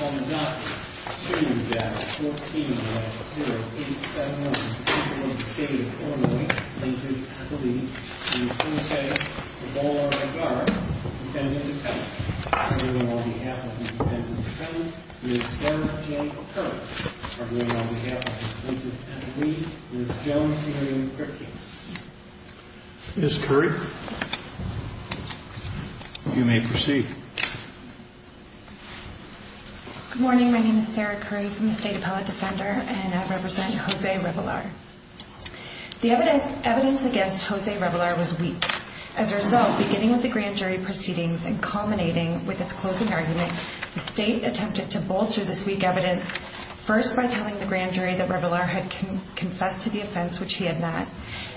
On the docket, 2-14-0871, the State of Illinois Plaintiff's Appellee, in the plaintiff's case, Rebollar-Vergara, defendant to penalty. Arguing on behalf of the defendant to penalty is Sarah J. Curry. Arguing on behalf of the plaintiff's appellee is Joan K. Kripke. Ms. Curry, you may proceed. Good morning. My name is Sarah Curry from the State Appellate Defender, and I represent Jose Rebollar. The evidence against Jose Rebollar was weak. As a result, beginning with the grand jury proceedings and culminating with its closing argument, the State attempted to bolster this weak evidence, first by telling the grand jury that Rebollar had confessed to the offense, which he had not,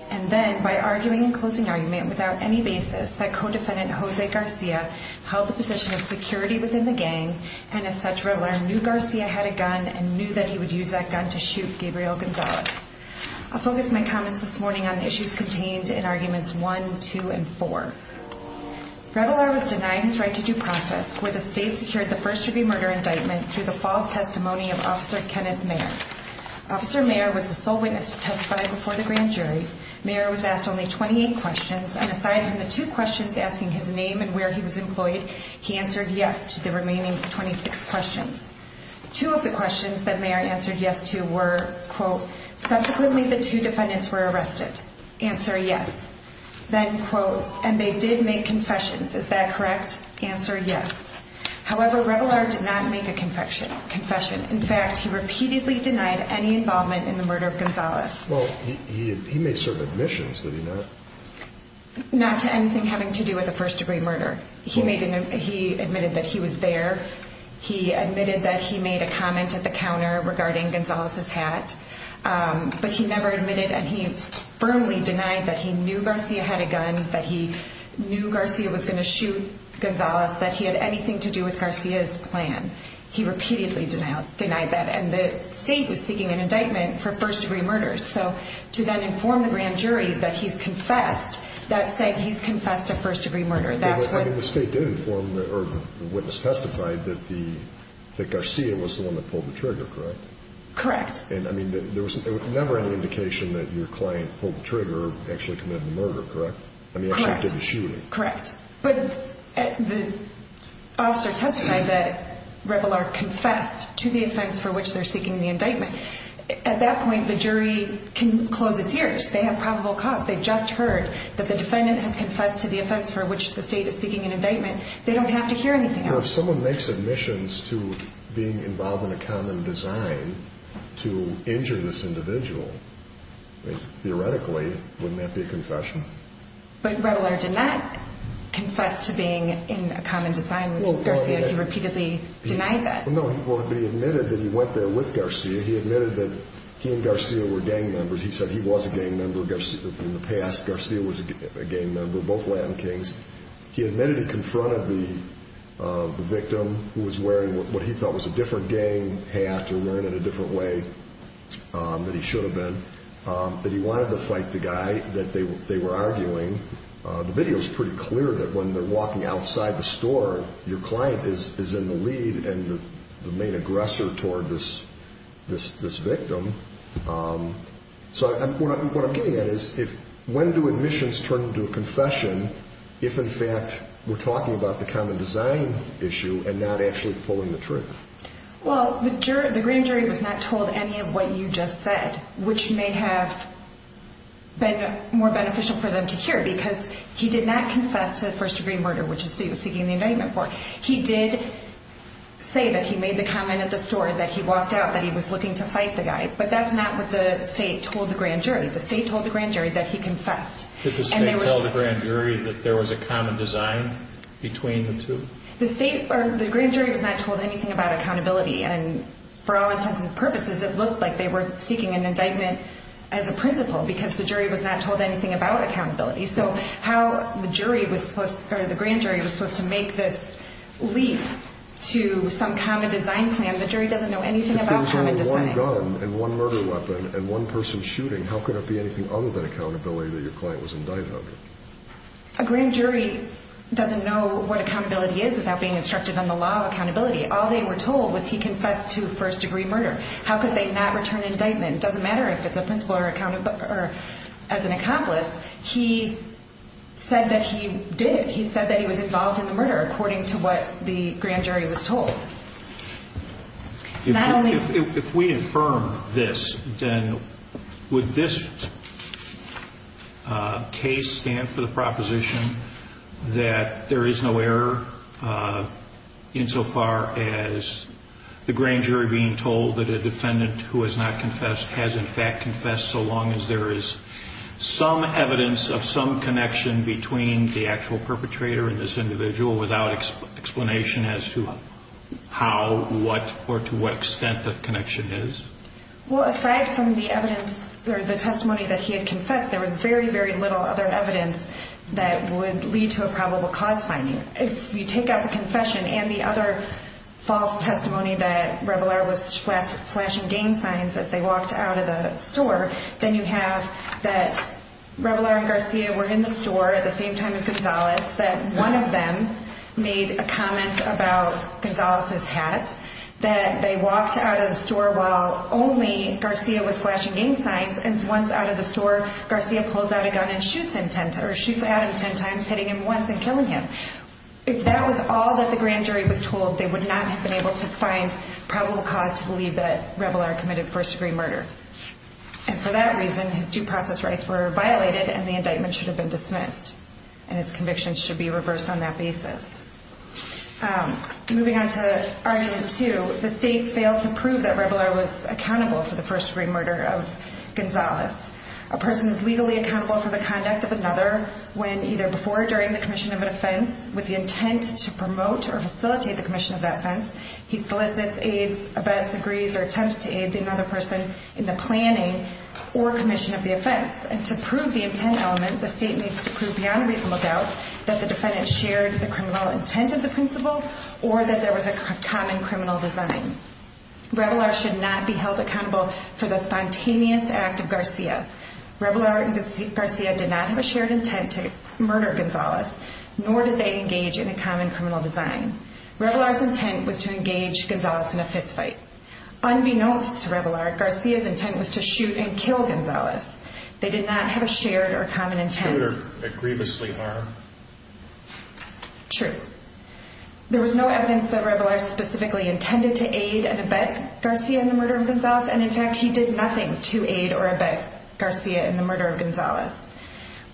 and then by arguing in closing argument without any basis that co-defendant Jose Garcia held the position of security within the gang, and as such, Rebollar knew Garcia had a gun and knew that he would use that gun to shoot Gabriel Gonzalez. I'll focus my comments this morning on the issues contained in arguments 1, 2, and 4. Rebollar was denied his right to due process, where the State secured the first-degree murder indictment through the false testimony of Officer Kenneth Mayer. Officer Mayer was the sole witness to testify before the grand jury. Mayer was asked only 28 questions, and aside from the two questions asking his name and where he was employed, he answered yes to the remaining 26 questions. Two of the questions that Mayer answered yes to were, quote, subsequently the two defendants were arrested. Answer yes. Then, quote, and they did make confessions. Is that correct? Answer yes. However, Rebollar did not make a confession. In fact, he repeatedly denied any involvement in the murder of Gonzalez. Well, he made certain admissions, did he not? Not to anything having to do with a first-degree murder. He admitted that he was there. He admitted that he made a comment at the counter regarding Gonzalez's hat. But he never admitted, and he firmly denied that he knew Garcia had a gun, that he knew Garcia was going to shoot Gonzalez, that he had anything to do with Garcia's plan. He repeatedly denied that, and the State was seeking an indictment for first-degree murders. To then inform the grand jury that he's confessed, that said he's confessed a first-degree murder. I mean, the State did inform, or the witness testified, that Garcia was the one that pulled the trigger, correct? Correct. I mean, there was never any indication that your client pulled the trigger or actually committed the murder, correct? I mean, actually did the shooting. Correct. But the officer testified that Rebollar confessed to the offense for which they're seeking the indictment. At that point, the jury can close its ears. They have probable cause. They just heard that the defendant has confessed to the offense for which the State is seeking an indictment. They don't have to hear anything else. If someone makes admissions to being involved in a common design to injure this individual, theoretically, wouldn't that be a confession? But Rebollar did not confess to being in a common design with Garcia. He repeatedly denied that. No, he admitted that he went there with Garcia. He admitted that he and Garcia were gang members. He said he was a gang member. In the past, Garcia was a gang member, both Latin kings. He admitted he confronted the victim, who was wearing what he thought was a different gang hat or wearing it a different way than he should have been, that he wanted to fight the guy that they were arguing. The video is pretty clear that when they're walking outside the store, your client is in the lead and the main aggressor toward this victim. What I'm getting at is, when do admissions turn into a confession if, in fact, we're talking about the common design issue and not actually pulling the trigger? Well, the jury, the grand jury was not told any of what you just said, which may have been more beneficial for them to hear because he did not confess to first degree murder, which he was seeking the indictment for. He did say that he made the comment at the store that he walked out, that he was looking to fight the guy. But that's not what the state told the grand jury. The state told the grand jury that he confessed. Did the state tell the grand jury that there was a common design between the two? The state or the grand jury was not told anything about accountability. And for all intents and purposes, it looked like they were seeking an indictment as a principle because the jury was not told anything about accountability. So how the jury was supposed or the grand jury was supposed to make this leap to some common design plan. The jury doesn't know anything about common design. If there's only one gun and one murder weapon and one person shooting, how could it be anything other than accountability that your client was indicted under? A grand jury doesn't know what accountability is without being instructed on the law of accountability. All they were told was he confessed to first degree murder. How could they not return indictment? It doesn't matter if it's a principle or as an accomplice. He said that he did. He said that he was involved in the murder according to what the grand jury was told. If we affirm this, then would this case stand for the proposition that there is no error insofar as the grand jury being told that a defendant who has not confessed has in fact confessed so long as there is some evidence of some connection between the actual perpetrator and this individual without explanation as to how, what, or to what extent the connection is? Well, aside from the evidence or the testimony that he had confessed, there was very, very little other evidence that would lead to a probable cause finding. If you take out the confession and the other false testimony that walked out of the store, then you have that Rabilar and Garcia were in the store at the same time as Gonzalez, that one of them made a comment about Gonzalez's hat, that they walked out of the store while only Garcia was flashing gang signs. And once out of the store, Garcia pulls out a gun and shoots Adam 10 times, hitting him once and killing him. If that was all that the grand jury was told, they would not have been able to find probable cause to believe that Rabilar committed first degree murder. And for that reason, his due process rights were violated and the indictment should have been dismissed and his convictions should be reversed on that basis. Moving on to argument two, the state failed to prove that Rabilar was accountable for the first degree murder of Gonzalez. A person is legally accountable for the conduct of another when either before or during the commission of an offense with the intent to promote or facilitate the commission of that offense agrees or attempts to aid another person in the planning or commission of the offense. And to prove the intent element, the state needs to prove beyond reasonable doubt that the defendant shared the criminal intent of the principal or that there was a common criminal design. Rabilar should not be held accountable for the spontaneous act of Garcia. Rabilar and Garcia did not have a shared intent to murder Gonzalez, nor did they engage in a common criminal design. Rabilar's intent was to engage Gonzalez in a fistfight. Unbeknownst to Rabilar, Garcia's intent was to shoot and kill Gonzalez. They did not have a shared or common intent. To shoot or grievously harm. True. There was no evidence that Rabilar specifically intended to aid and abet Garcia in the murder of Gonzalez. And in fact, he did nothing to aid or abet Garcia in the murder of Gonzalez.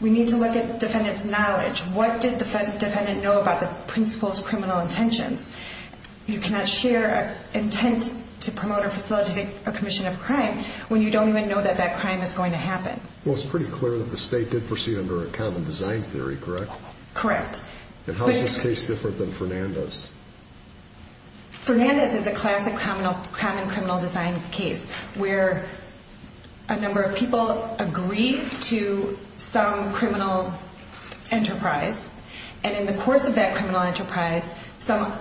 We need to look at defendant's knowledge. What did the defendant know about the principal's criminal intentions? You cannot share an intent to promote or facilitate a commission of crime when you don't even know that that crime is going to happen. Well, it's pretty clear that the state did proceed under a common design theory, correct? Correct. And how is this case different than Fernandez? Fernandez is a classic common criminal design case where a number of people agree to some and in the course of that criminal enterprise, some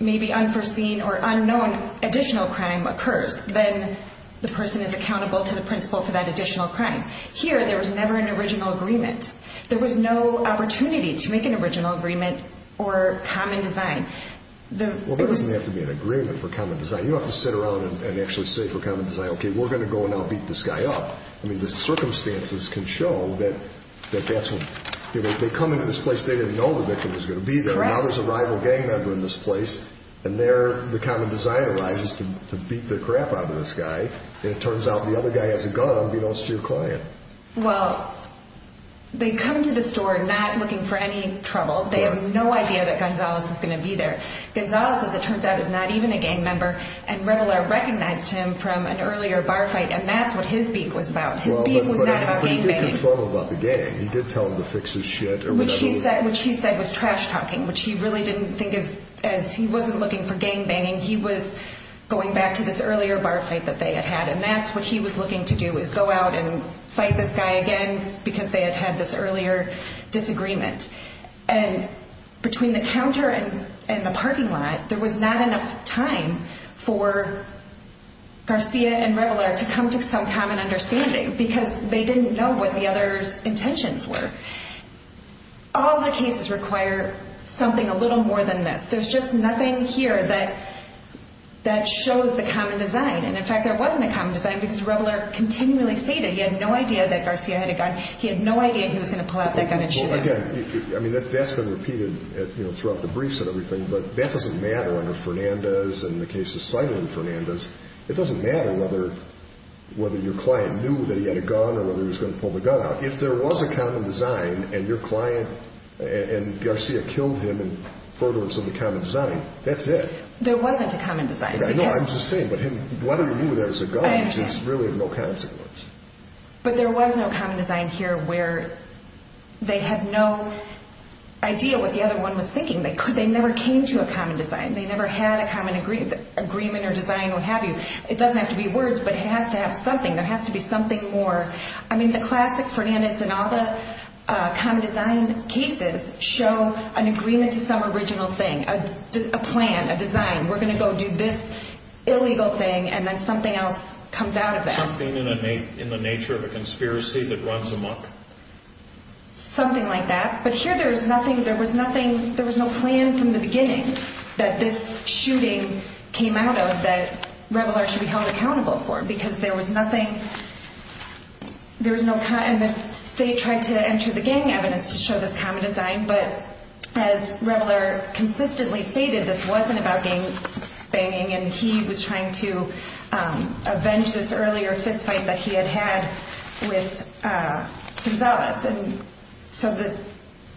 maybe unforeseen or unknown additional crime occurs. Then the person is accountable to the principal for that additional crime. Here, there was never an original agreement. There was no opportunity to make an original agreement or common design. Well, there doesn't have to be an agreement for common design. You don't have to sit around and actually say for common design, okay, we're going to go and I'll beat this guy up. The circumstances can show that they come into this place, they didn't know the victim was going to be there. Now there's a rival gang member in this place and there the common design arises to beat the crap out of this guy. And it turns out the other guy has a gun unbeknownst to your client. Well, they come to the store not looking for any trouble. They have no idea that Gonzalez is going to be there. Gonzalez, as it turns out, is not even a gang member and Revellar recognized him from an earlier bar fight. And that's what his beep was about. His beep was not about gang banging. But he did confirm about the gang. He did tell him to fix his shit or whatever. Which he said was trash talking, which he really didn't think as he wasn't looking for gang banging. He was going back to this earlier bar fight that they had had. And that's what he was looking to do is go out and fight this guy again because they had had this earlier disagreement. And between the counter and the parking lot, there was not enough time for Garcia and Revellar to come to some common understanding because they didn't know what the other's intentions were. All the cases require something a little more than this. There's just nothing here that shows the common design. And in fact, there wasn't a common design because Revellar continually stated he had no idea that Garcia had a gun. He had no idea he was going to pull out that gun and shoot him. Well, again, I mean, that's been repeated throughout the briefs and everything. But that doesn't matter under Fernandez and the cases cited in Fernandez. It doesn't matter whether your client knew that he had a gun or whether he was going to pull the gun out. If there was a common design and your client and Garcia killed him in furtherance of the common design, that's it. There wasn't a common design. I know, I'm just saying. But whether he knew there was a gun is really of no consequence. But there was no common design here where they had no idea what the other one was thinking. They never came to a common design. They never had a common agreement or design or what have you. It doesn't have to be words, but it has to have something. There has to be something more. I mean, the classic Fernandez and all the common design cases show an agreement to some original thing, a plan, a design. We're going to go do this illegal thing, and then something else comes out of that. Something in the nature of a conspiracy that runs amok? Something like that. But here, there was nothing. There was no plan from the beginning that this shooting came out of that Reveler should be held accountable for, because there was nothing. And the state tried to enter the gang evidence to show this common design. But as Reveler consistently stated, this wasn't about gang banging. And he was trying to avenge this earlier fist fight that he had had with Gonzalez. So the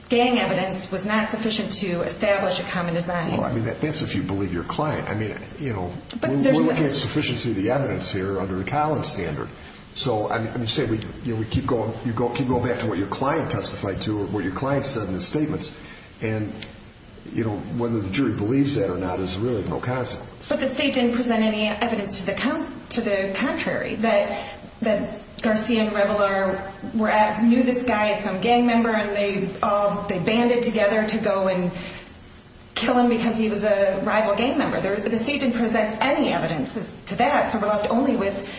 gang evidence was not sufficient to establish a common design. Well, I mean, that's if you believe your client. I mean, we're looking at sufficiency of the evidence here under the Collins standard. So you keep going back to what your client testified to or what your client said in the statements. And whether the jury believes that or not is really of no consequence. But the state didn't present any evidence to the contrary, that Garcia and Reveler knew this guy as some gang member and they banded together to go and kill him because he was a rival gang member. The state didn't present any evidence to that. So we're left only with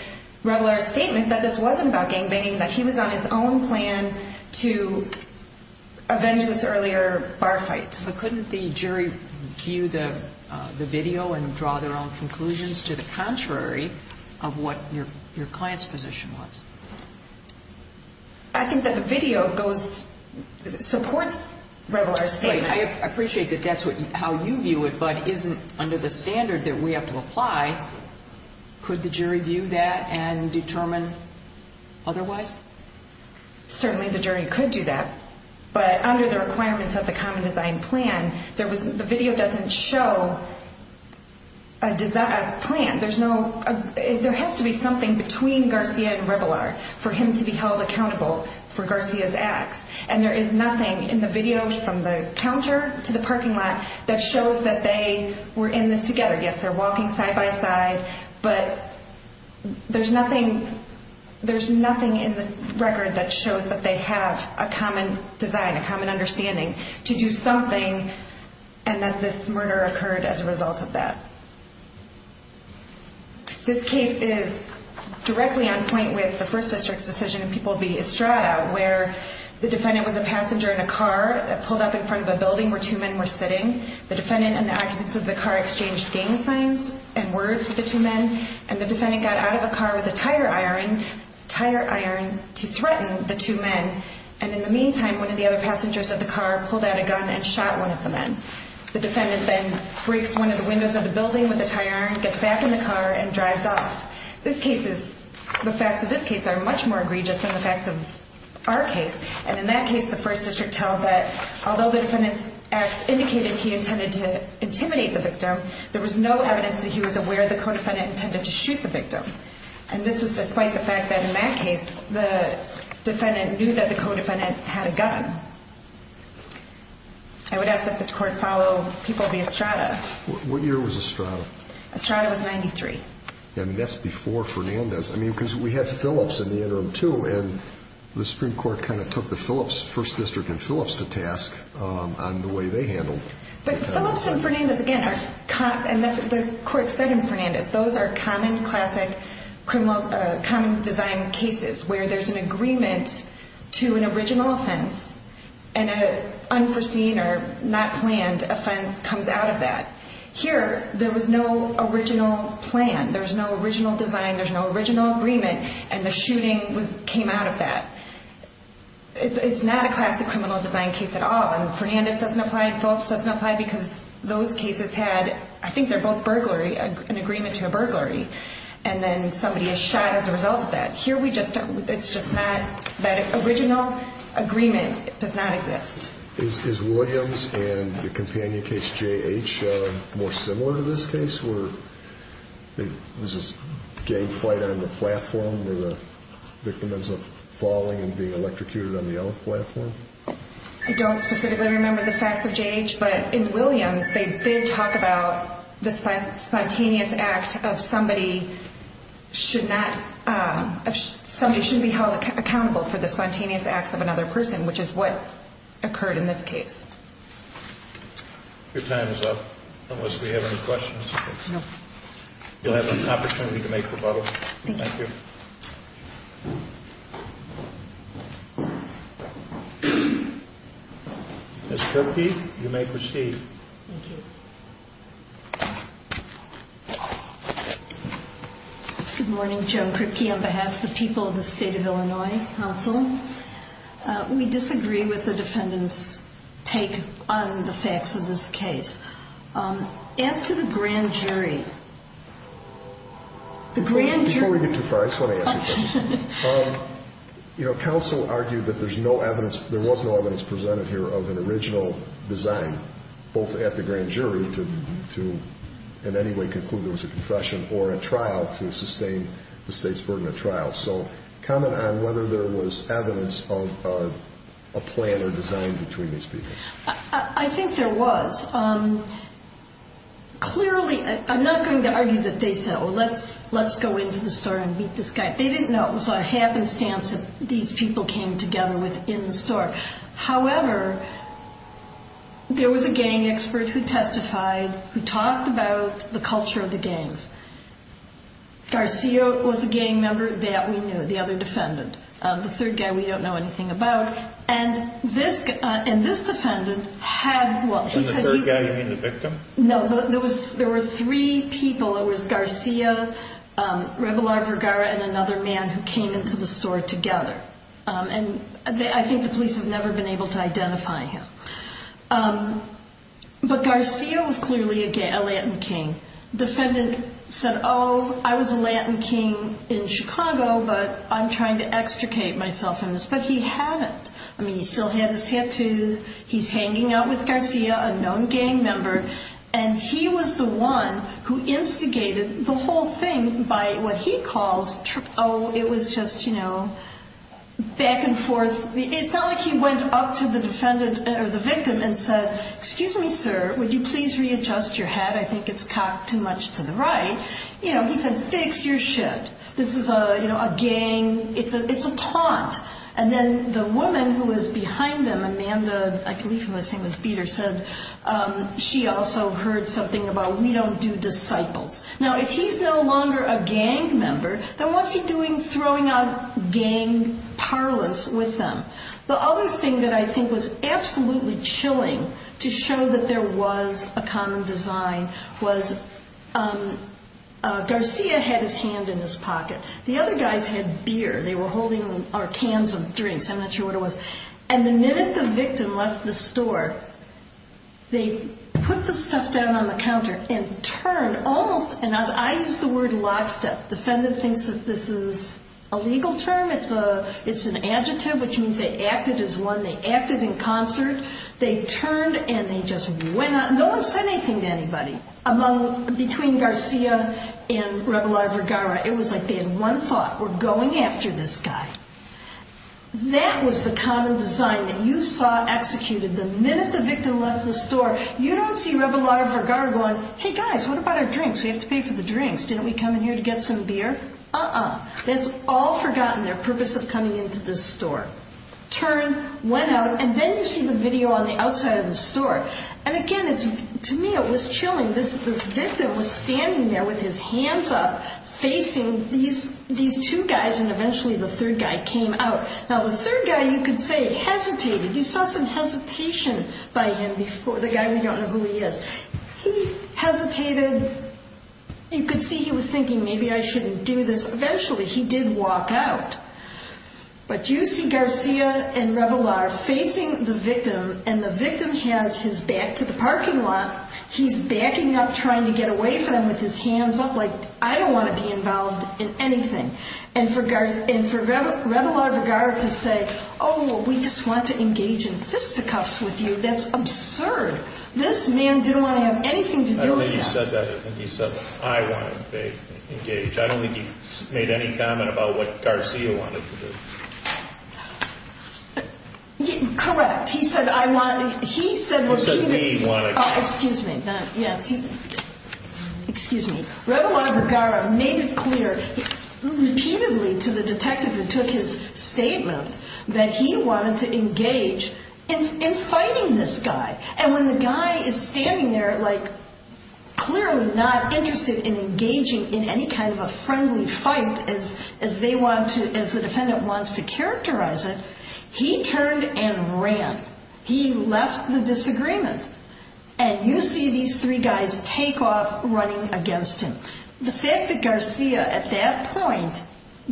Reveler's statement that this wasn't about gang banging, that he was on his own plan to avenge this earlier bar fight. But couldn't the jury view the video and draw their own conclusions to the contrary of what your client's position was? I think that the video supports Reveler's statement. I appreciate that that's how you view it, but isn't under the standard that we have to apply. Could the jury view that and determine otherwise? Certainly the jury could do that. But under the requirements of the common design plan, the video doesn't show a design plan. There has to be something between Garcia and Reveler for him to be held accountable for Garcia's acts. And there is nothing in the video from the counter to the parking lot that shows that they were in this together. Yes, they're walking side by side, but there's nothing in the record that shows that they have a common design, a common understanding to do something and that this murder occurred as a result of that. This case is directly on point with the First District's decision in People v. Estrada, where the defendant was a passenger in a car that pulled up in front of a building where two men were sitting. The defendant and the occupants of the car exchanged gang signs and words with the two men, and the defendant got out of the car with a tire iron to threaten the two men. And in the meantime, one of the other passengers of the car pulled out a gun and shot one of the men. The defendant then breaks one of the windows of the building with a tire iron, gets back in the car, and drives off. The facts of this case are much more egregious than the facts of our case. And in that case, the First District held that although the defendant's acts indicated he intended to intimidate the victim, there was no evidence that he was aware the co-defendant intended to shoot the victim. And this was despite the fact that in that case, the defendant knew that the co-defendant had a gun. I would ask that this court follow people via strata. What year was a strata? A strata was 93. I mean, that's before Fernandez. I mean, because we have Phillips in the interim, too, and the Supreme Court kind of took the Phillips, First District and Phillips to task on the way they handled. But Phillips and Fernandez, again, are common. And the court said in Fernandez, those are common, classic, common design cases where there's an agreement to an original offense and an unforeseen or not planned offense comes out of that. Here, there was no original plan. There's no original design. There's no original agreement. And the shooting came out of that. It's not a classic criminal design case at all. And Fernandez doesn't apply and Phillips doesn't apply because those cases had, I think they're both burglary, an agreement to a burglary. And then somebody is shot as a result of that. Here, it's just not that original agreement does not exist. Is Williams and the companion case, J.H., more similar to this case where there's this gang fight on the platform where the victim ends up falling and being electrocuted on the other platform? I don't specifically remember the facts of J.H., but in Williams, they did talk about the spontaneous act of somebody should be held accountable for the spontaneous acts of another person, which is what occurred in this case. Your time is up, unless we have any questions. You'll have an opportunity to make rebuttals. Thank you. Ms. Kirkkey, you may proceed. Good morning, Joan Kirkkey. On behalf of the people of the state of Illinois, counsel, we disagree with the defendant's take on the facts of this case. As to the grand jury, the grand jury- Before we get too far, I just want to ask you a question. You know, counsel argued that there's no evidence, there was no evidence presented here of an original design, both at the grand jury to, in any way, conclude there was a confession or a trial to sustain the state's burden of trial. So comment on whether there was evidence of a plan or design between these people. I think there was. Clearly, I'm not going to argue that they said, oh, let's go into the store and meet this guy. They didn't know it was a happenstance that these people came together within the store. However, there was a gang expert who testified, who talked about the culture of the gangs. Garcia was a gang member that we knew, the other defendant, the third guy we don't know anything about. And this defendant had- And the third guy, you mean the victim? No, there were three people. It was Garcia, Rebelar Vergara, and another man who came into the store together. And I think the police have never been able to identify him. But Garcia was clearly a Latin king. Defendant said, oh, I was a Latin king in Chicago, but I'm trying to extricate myself in this. But he hadn't. I mean, he still had his tattoos. He's hanging out with Garcia, a known gang member. And he was the one who instigated the whole thing by what he calls, oh, it was just, you know, back and forth. It's not like he went up to the defendant or the victim and said, excuse me, sir, would you please readjust your hat? I think it's cocked too much to the right. You know, he said, fix your shit. This is a, you know, a gang, it's a taunt. And then the woman who was behind them, Amanda, I believe her name was Peter, said she also heard something about we don't do disciples. Now, if he's no longer a gang member, then what's he doing throwing out gang parlance with them? The other thing that I think was absolutely chilling to show that there was a common design was Garcia had his hand in his pocket. The other guys had beer. They were holding, or cans of drinks. I'm not sure what it was. And the minute the victim left the store, they put the stuff down on the counter and turned almost, and I use the word lockstep. Defendant thinks that this is a legal term. It's an adjective, which means they acted as one. They acted in concert. They turned and they just went out. No one said anything to anybody among, between Garcia and Rebelar Vergara. It was like they had one thought, we're going after this guy. That was the common design that you saw executed. The minute the victim left the store, you don't see Rebelar Vergara going, hey guys, what about our drinks? We have to pay for the drinks. Didn't we come in here to get some beer? That's all forgotten. Their purpose of coming into this store. Turn, went out, and then you see the video on the outside of the store. And again, to me, it was chilling. This victim was standing there with his hands up, facing these two guys, and eventually the third guy came out. Now the third guy, you could say hesitated. You saw some hesitation by him before, the guy, we don't know who he is. He hesitated. You could see he was thinking, maybe I shouldn't do this. Eventually, he did walk out. But you see Garcia and Rebelar facing the victim, and the victim has his back to the parking lot. He's backing up, trying to get away from him with his hands up like, I don't want to be involved in anything. And for Rebelar Vergara to say, oh, we just want to engage in fisticuffs with you. That's absurd. This man didn't want to have anything to do with that. You said that, you said, I want to engage. I don't think he made any comment about what Garcia wanted to do. Correct. He said, I want, he said, excuse me. Excuse me. Rebelar Vergara made it clear repeatedly to the detective who took his statement that he wanted to engage in fighting this guy. And when the guy is standing there, like clearly not interested in engaging in any kind of a friendly fight as they want to, as the defendant wants to characterize it, he turned and ran. He left the disagreement. And you see these three guys take off running against him. The fact that Garcia at that point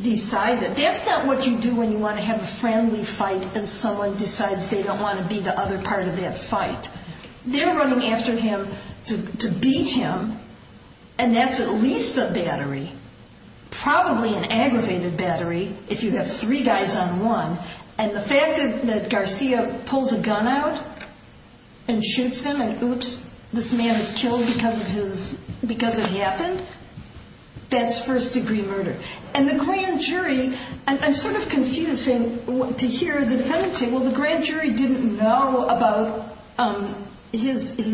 decided, that's not what you do when you want to have a friendly fight and someone decides they don't want to be the other part of that fight. They're running after him to beat him. And that's at least a battery, probably an aggravated battery if you have three guys on one. And the fact that Garcia pulls a gun out and shoots him and oops, this man is killed because of his, because it happened. That's first degree murder. And the grand jury, I'm sort of confused to hear the defendant say, the grand jury didn't know about his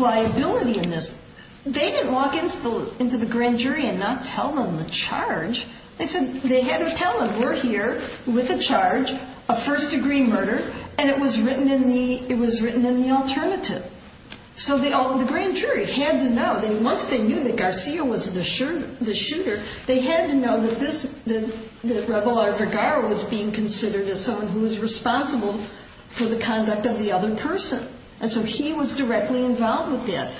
liability in this. They didn't walk into the grand jury and not tell them the charge. They said they had to tell them, we're here with a charge, a first degree murder, and it was written in the alternative. So the grand jury had to know, once they knew that Garcia was the shooter, they had to know that this, was being considered as someone who was responsible for the conduct of the other person. And so he was directly involved with that.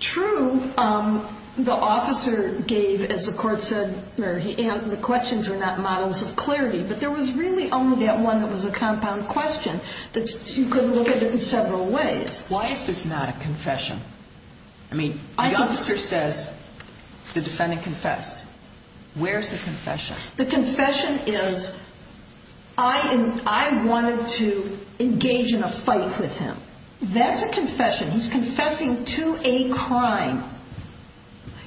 True, the officer gave, as the court said, the questions were not models of clarity, but there was really only that one that was a compound question that you could look at it in several ways. Why is this not a confession? I mean, the officer says the defendant confessed. Where's the confession? The confession is, I wanted to engage in a fight with him. That's a confession. He's confessing to a crime.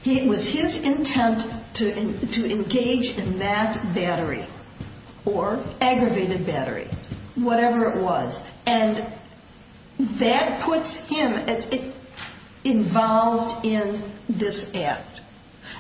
It was his intent to engage in that battery or aggravated battery, whatever it was. And that puts him involved in this act.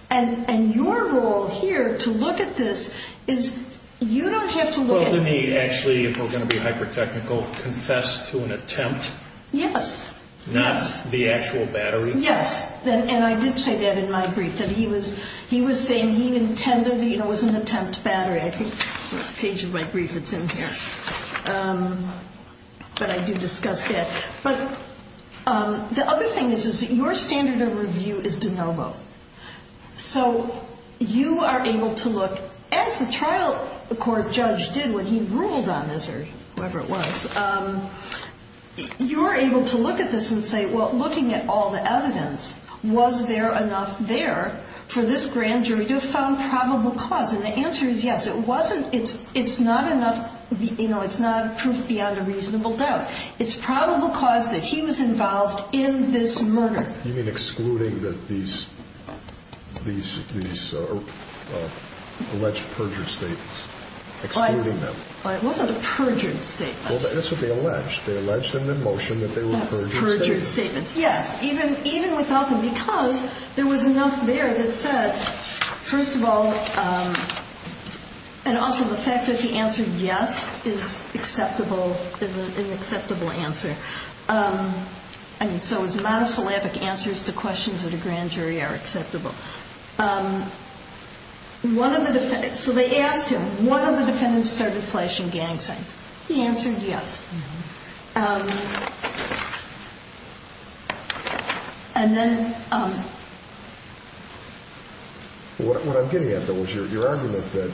And your role here to look at this is, you don't have to look at... Well, to me, actually, if we're going to be hyper-technical, confess to an attempt. Yes. Not the actual battery. Yes. And I did say that in my brief, that he was saying he intended, you know, it was an attempt battery. I think the page of my brief, it's in here. But I do discuss that. But the other thing is, is that your standard of review is de novo. So you are able to look, as the trial court judge did when he ruled on this, or whoever it was, you're able to look at this and say, well, looking at all the evidence, was there enough there for this grand jury to have found probable cause? And the answer is yes. It wasn't, it's not enough, you know, it's not proof beyond a reasonable doubt. It's probable cause that he was involved in this murder. You mean excluding these alleged perjured statements? Excluding them. Well, it wasn't a perjured statement. Well, that's what they alleged. They alleged in the motion that they were perjured statements. Yes. Even without them. Because there was enough there that said, first of all, and also the fact that he answered yes is acceptable, is an acceptable answer. I mean, so it was monosyllabic answers to questions that a grand jury are acceptable. One of the defendants, so they asked him, one of the defendants started flashing gang signs. He answered yes. And then. What I'm getting at, though, was your argument that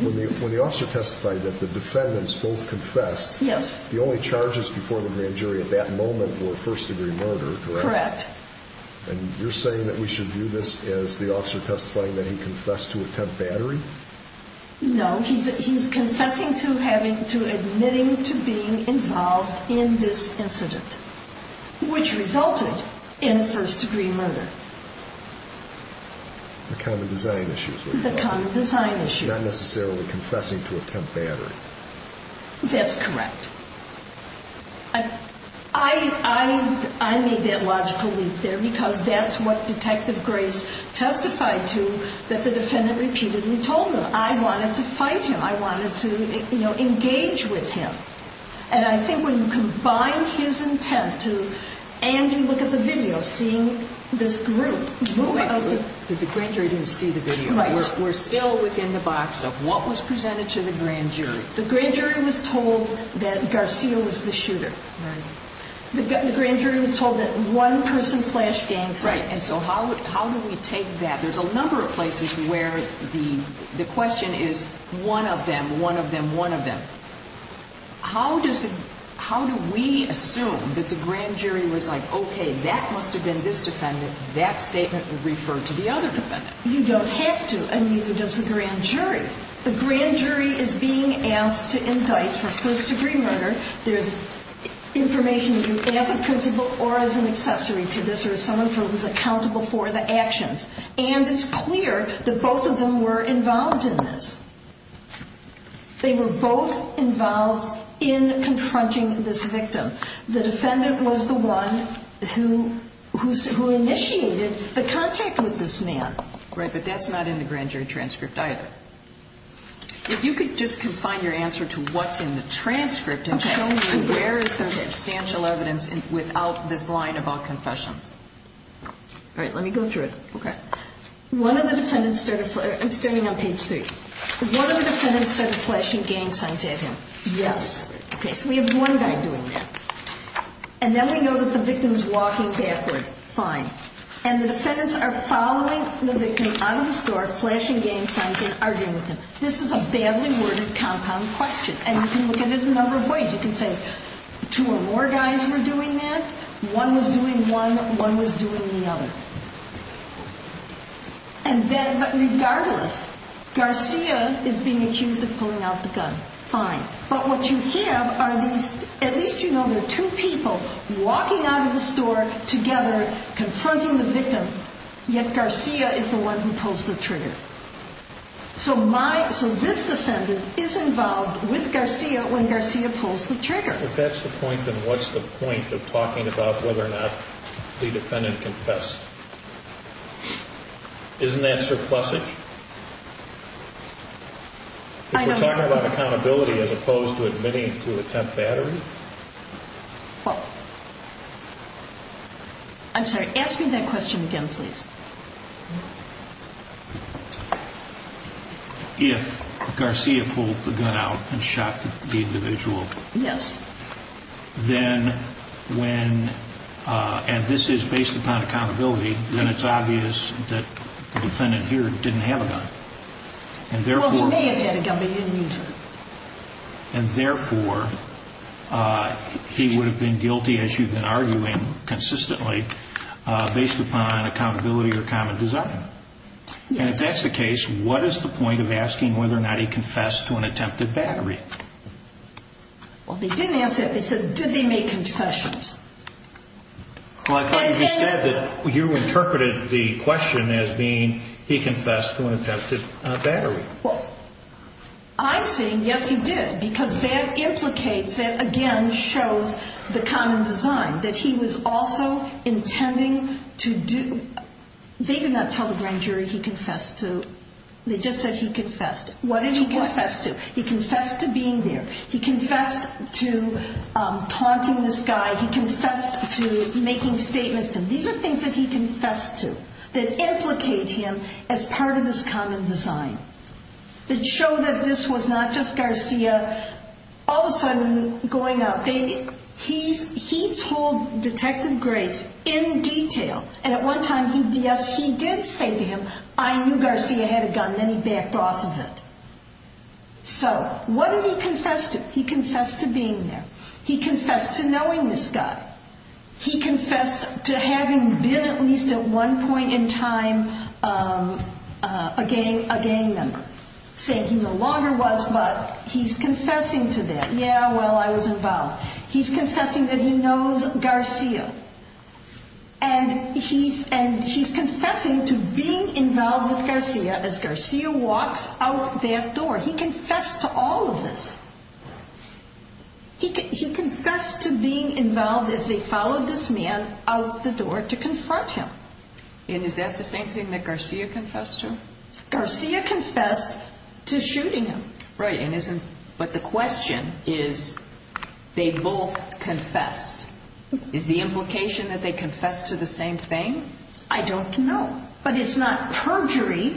when the officer testified that the defendants both confessed, the only charges before the grand jury at that moment were first-degree murder, correct? Correct. And you're saying that we should view this as the officer testifying that he confessed to attempt battery? No, he's confessing to admitting to being involved in this incident, which resulted in a first-degree murder. The common design issue. The common design issue. Not necessarily confessing to attempt battery. That's correct. I made that logical leap there because that's what Detective Grace testified to that the defendant repeatedly told him. I wanted to fight him. I wanted to, you know, engage with him. And I think when you combine his intent to Andy, look at the video, seeing this group. The grand jury didn't see the video. We're still within the box of what was presented to the grand jury. The grand jury was told that Garcia was the shooter. The grand jury was told that one person flashed gang signs. Right. And so how do we take that? There's a number of places where the question is one of them, one of them, one of them. How do we assume that the grand jury was like, okay, that must have been this defendant. That statement referred to the other defendant. You don't have to, and neither does the grand jury. The grand jury is being asked to indict for first degree murder. There's information that you as a principal or as an accessory to this or someone who's accountable for the actions. And it's clear that both of them were involved in this. They were both involved in confronting this victim. The defendant was the one who initiated the contact with this man. Right. But that's not in the grand jury transcript either. If you could just confine your answer to what's in the transcript and show me where is there substantial evidence without this line of all confessions. All right. Let me go through it. Okay. One of the defendants started, I'm standing on page three. One of the defendants started flashing gang signs at him. Yes. Okay. So we have one guy doing that. And then we know that the victim is walking backward. Fine. And the defendants are following the victim out of the store, flashing gang signs and arguing with him. This is a badly worded compound question. And you can look at it a number of ways. You can say two or more guys were doing that. One was doing one. One was doing the other. And then, but regardless, Garcia is being accused of pulling out the gun. Fine. But what you have are these, at least, you know, there are two people walking out of the store together confronting the victim. Yet Garcia is the one who pulls the trigger. So my, so this defendant is involved with Garcia when Garcia pulls the trigger. If that's the point, then what's the point of talking about whether or not the defendant confessed? Isn't that surplusage? I know. If we're talking about accountability as opposed to admitting to attempt battery? I'm sorry. Ask me that question again, please. If Garcia pulled the gun out and shot the individual. Yes. Then when, and this is based upon accountability, then it's obvious that the defendant here didn't have a gun. And therefore, he may have had a gun, but he didn't use it. And therefore, he would have been guilty as you've been arguing consistently based upon accountability or common design. And if that's the case, what is the point of asking whether or not he confessed to an attempted battery? Well, they didn't answer it. They said, did they make confessions? Well, I thought you said that you interpreted the question as being he confessed to an attempted battery. I'm saying yes, he did, because that implicates that again shows the common design that he was also intending to do. They did not tell the grand jury he confessed to. They just said he confessed. What did he confess to? He confessed to being there. He confessed to taunting this guy. He confessed to making statements to him. These are things that he confessed to that implicate him as part of this common design that show that this was not just Garcia all of a sudden going out. He told Detective Grace in detail, and at one time, he did say to him, I knew Garcia had a gun, then he backed off of it. So what did he confess to? He confessed to being there. He confessed to knowing this guy. He confessed to having been at least at one point in time a gang member saying he no longer was, but he's confessing to that. Yeah, well, I was involved. He's confessing that he knows Garcia and he's confessing to being involved with Garcia as Garcia walks out their door. He confessed to all of this. He confessed to being involved as they followed this man out the door to confront him. And is that the same thing that Garcia confessed to? Garcia confessed to shooting him. Right, but the question is, they both confessed. Is the implication that they confessed to the same thing? I don't know. But it's not perjury.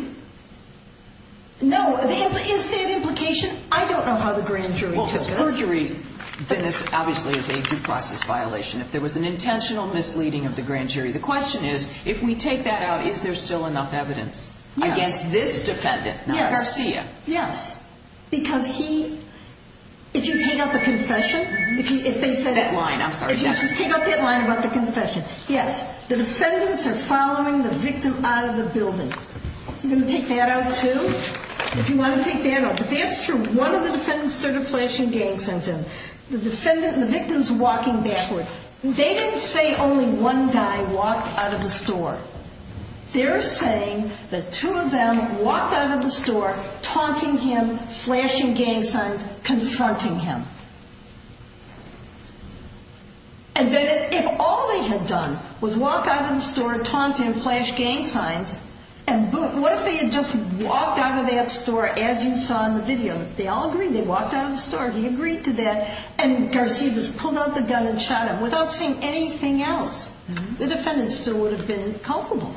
No, is there an implication? I don't know how the grand jury took it. Well, if it's perjury, then this obviously is a due process violation. If there was an intentional misleading of the grand jury, the question is, if we take that out, is there still enough evidence against this defendant, Garcia? Yes, because he, if you take out the confession, if they said... If you just take out that line about the confession, yes, the defendants are following the victim out of the building. I'm going to take that out too, if you want to take that out. But that's true. One of the defendants started flashing gang signs and the victim's walking backward. They didn't say only one guy walked out of the store. They're saying that two of them walked out of the store, taunting him, flashing gang signs, confronting him. And then if all they had done was walk out of the store, taunt him, flash gang signs, and what if they had just walked out of that store as you saw in the video? They all agreed. They walked out of the store. He agreed to that. And Garcia just pulled out the gun and shot him without seeing anything else. The defendant still would have been culpable.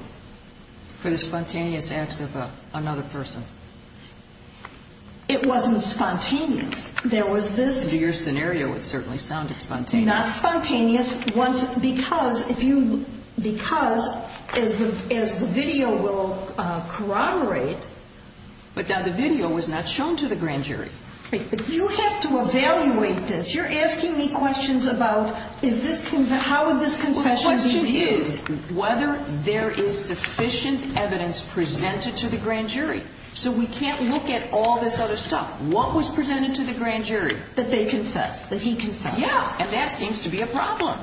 For the spontaneous acts of another person. It wasn't spontaneous. There was this... Your scenario would certainly sound spontaneous. Not spontaneous. Because as the video will corroborate... But now the video was not shown to the grand jury. But you have to evaluate this. You're asking me questions about how would this confession be viewed? The question is whether there is sufficient evidence presented to the grand jury. So we can't look at all this other stuff. What was presented to the grand jury? That they confessed. That he confessed. Yeah, and that seems to be a problem.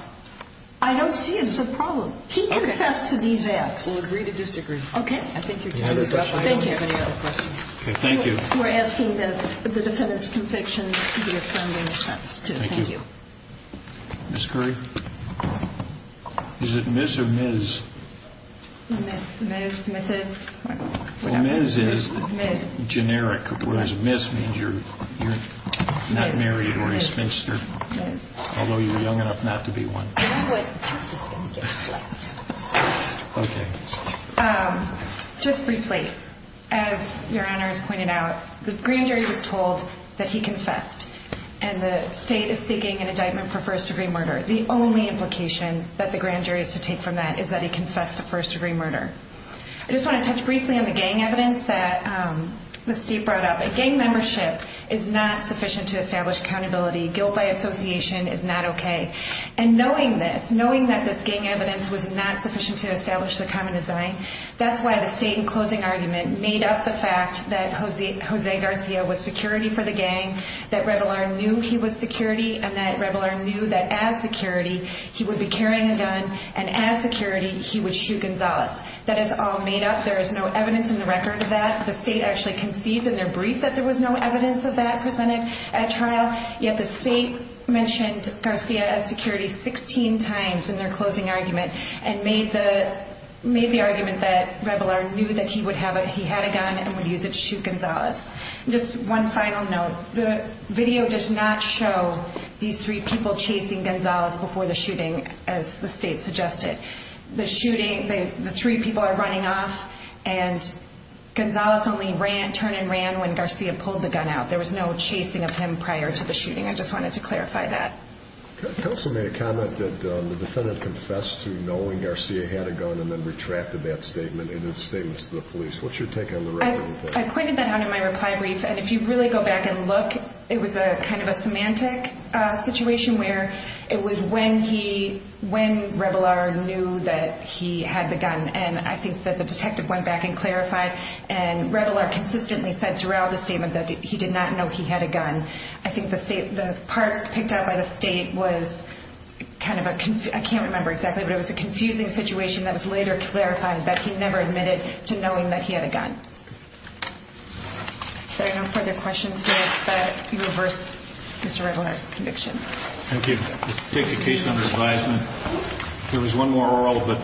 I don't see it as a problem. He confessed to these acts. We'll agree to disagree. Okay. I think you're doing a good job. I don't have any other questions. Okay, thank you. We're asking that the defendant's conviction be affirmed in a sense, too. Thank you. Ms. Curry? Is it Ms. or Ms.? Ms., Ms., Mrs. Ms. is generic. Whereas Ms. means you're not married or a spinster. Although you were young enough not to be one. Just briefly, as your honor has pointed out, the grand jury was told that he confessed. And the state is seeking an indictment for first degree murder. The only implication that the grand jury is to take from that is that he confessed to first degree murder. I just want to touch briefly on the gang evidence that the state brought up. Gang membership is not sufficient to establish accountability. Guilt by association is not okay. And knowing this, knowing that this gang evidence was not sufficient to establish the common design, that's why the state in closing argument made up the fact that Jose Garcia was security for the gang, that Rebelard knew he was security, and that Rebelard knew that as security, he would be carrying a gun. And as security, he would shoot Gonzalez. That is all made up. There is no evidence in the record of that. The state actually concedes in their brief that there was no evidence of that presented at trial. Yet the state mentioned Garcia as security 16 times in their closing argument and made the argument that Rebelard knew that he would have it. He had a gun and would use it to shoot Gonzalez. Just one final note. The video does not show these three people chasing Gonzalez before the shooting, as the state suggested. The shooting, the three people are running off and Gonzalez only ran, turned and ran when Garcia pulled the gun out. There was no chasing of him prior to the shooting. I just wanted to clarify that. Counsel made a comment that the defendant confessed to knowing Garcia had a gun and then retracted that statement in his statements to the police. What's your take on the record? I pointed that out in my reply brief. And if you really go back and look, it was a kind of a semantic situation where it was when he, when Rebelard knew that he had the gun. And I think that the detective went back and clarified and Rebelard consistently said throughout the statement that he did not know he had a gun. I think the state, the part picked up by the state was kind of a, I can't remember exactly, but it was a confusing situation that was later clarifying that he never admitted to knowing that he had a gun. There are no further questions, but you reverse Mr. Rebelard's conviction. Thank you. Let's take a case under advisement. There was one more oral, but.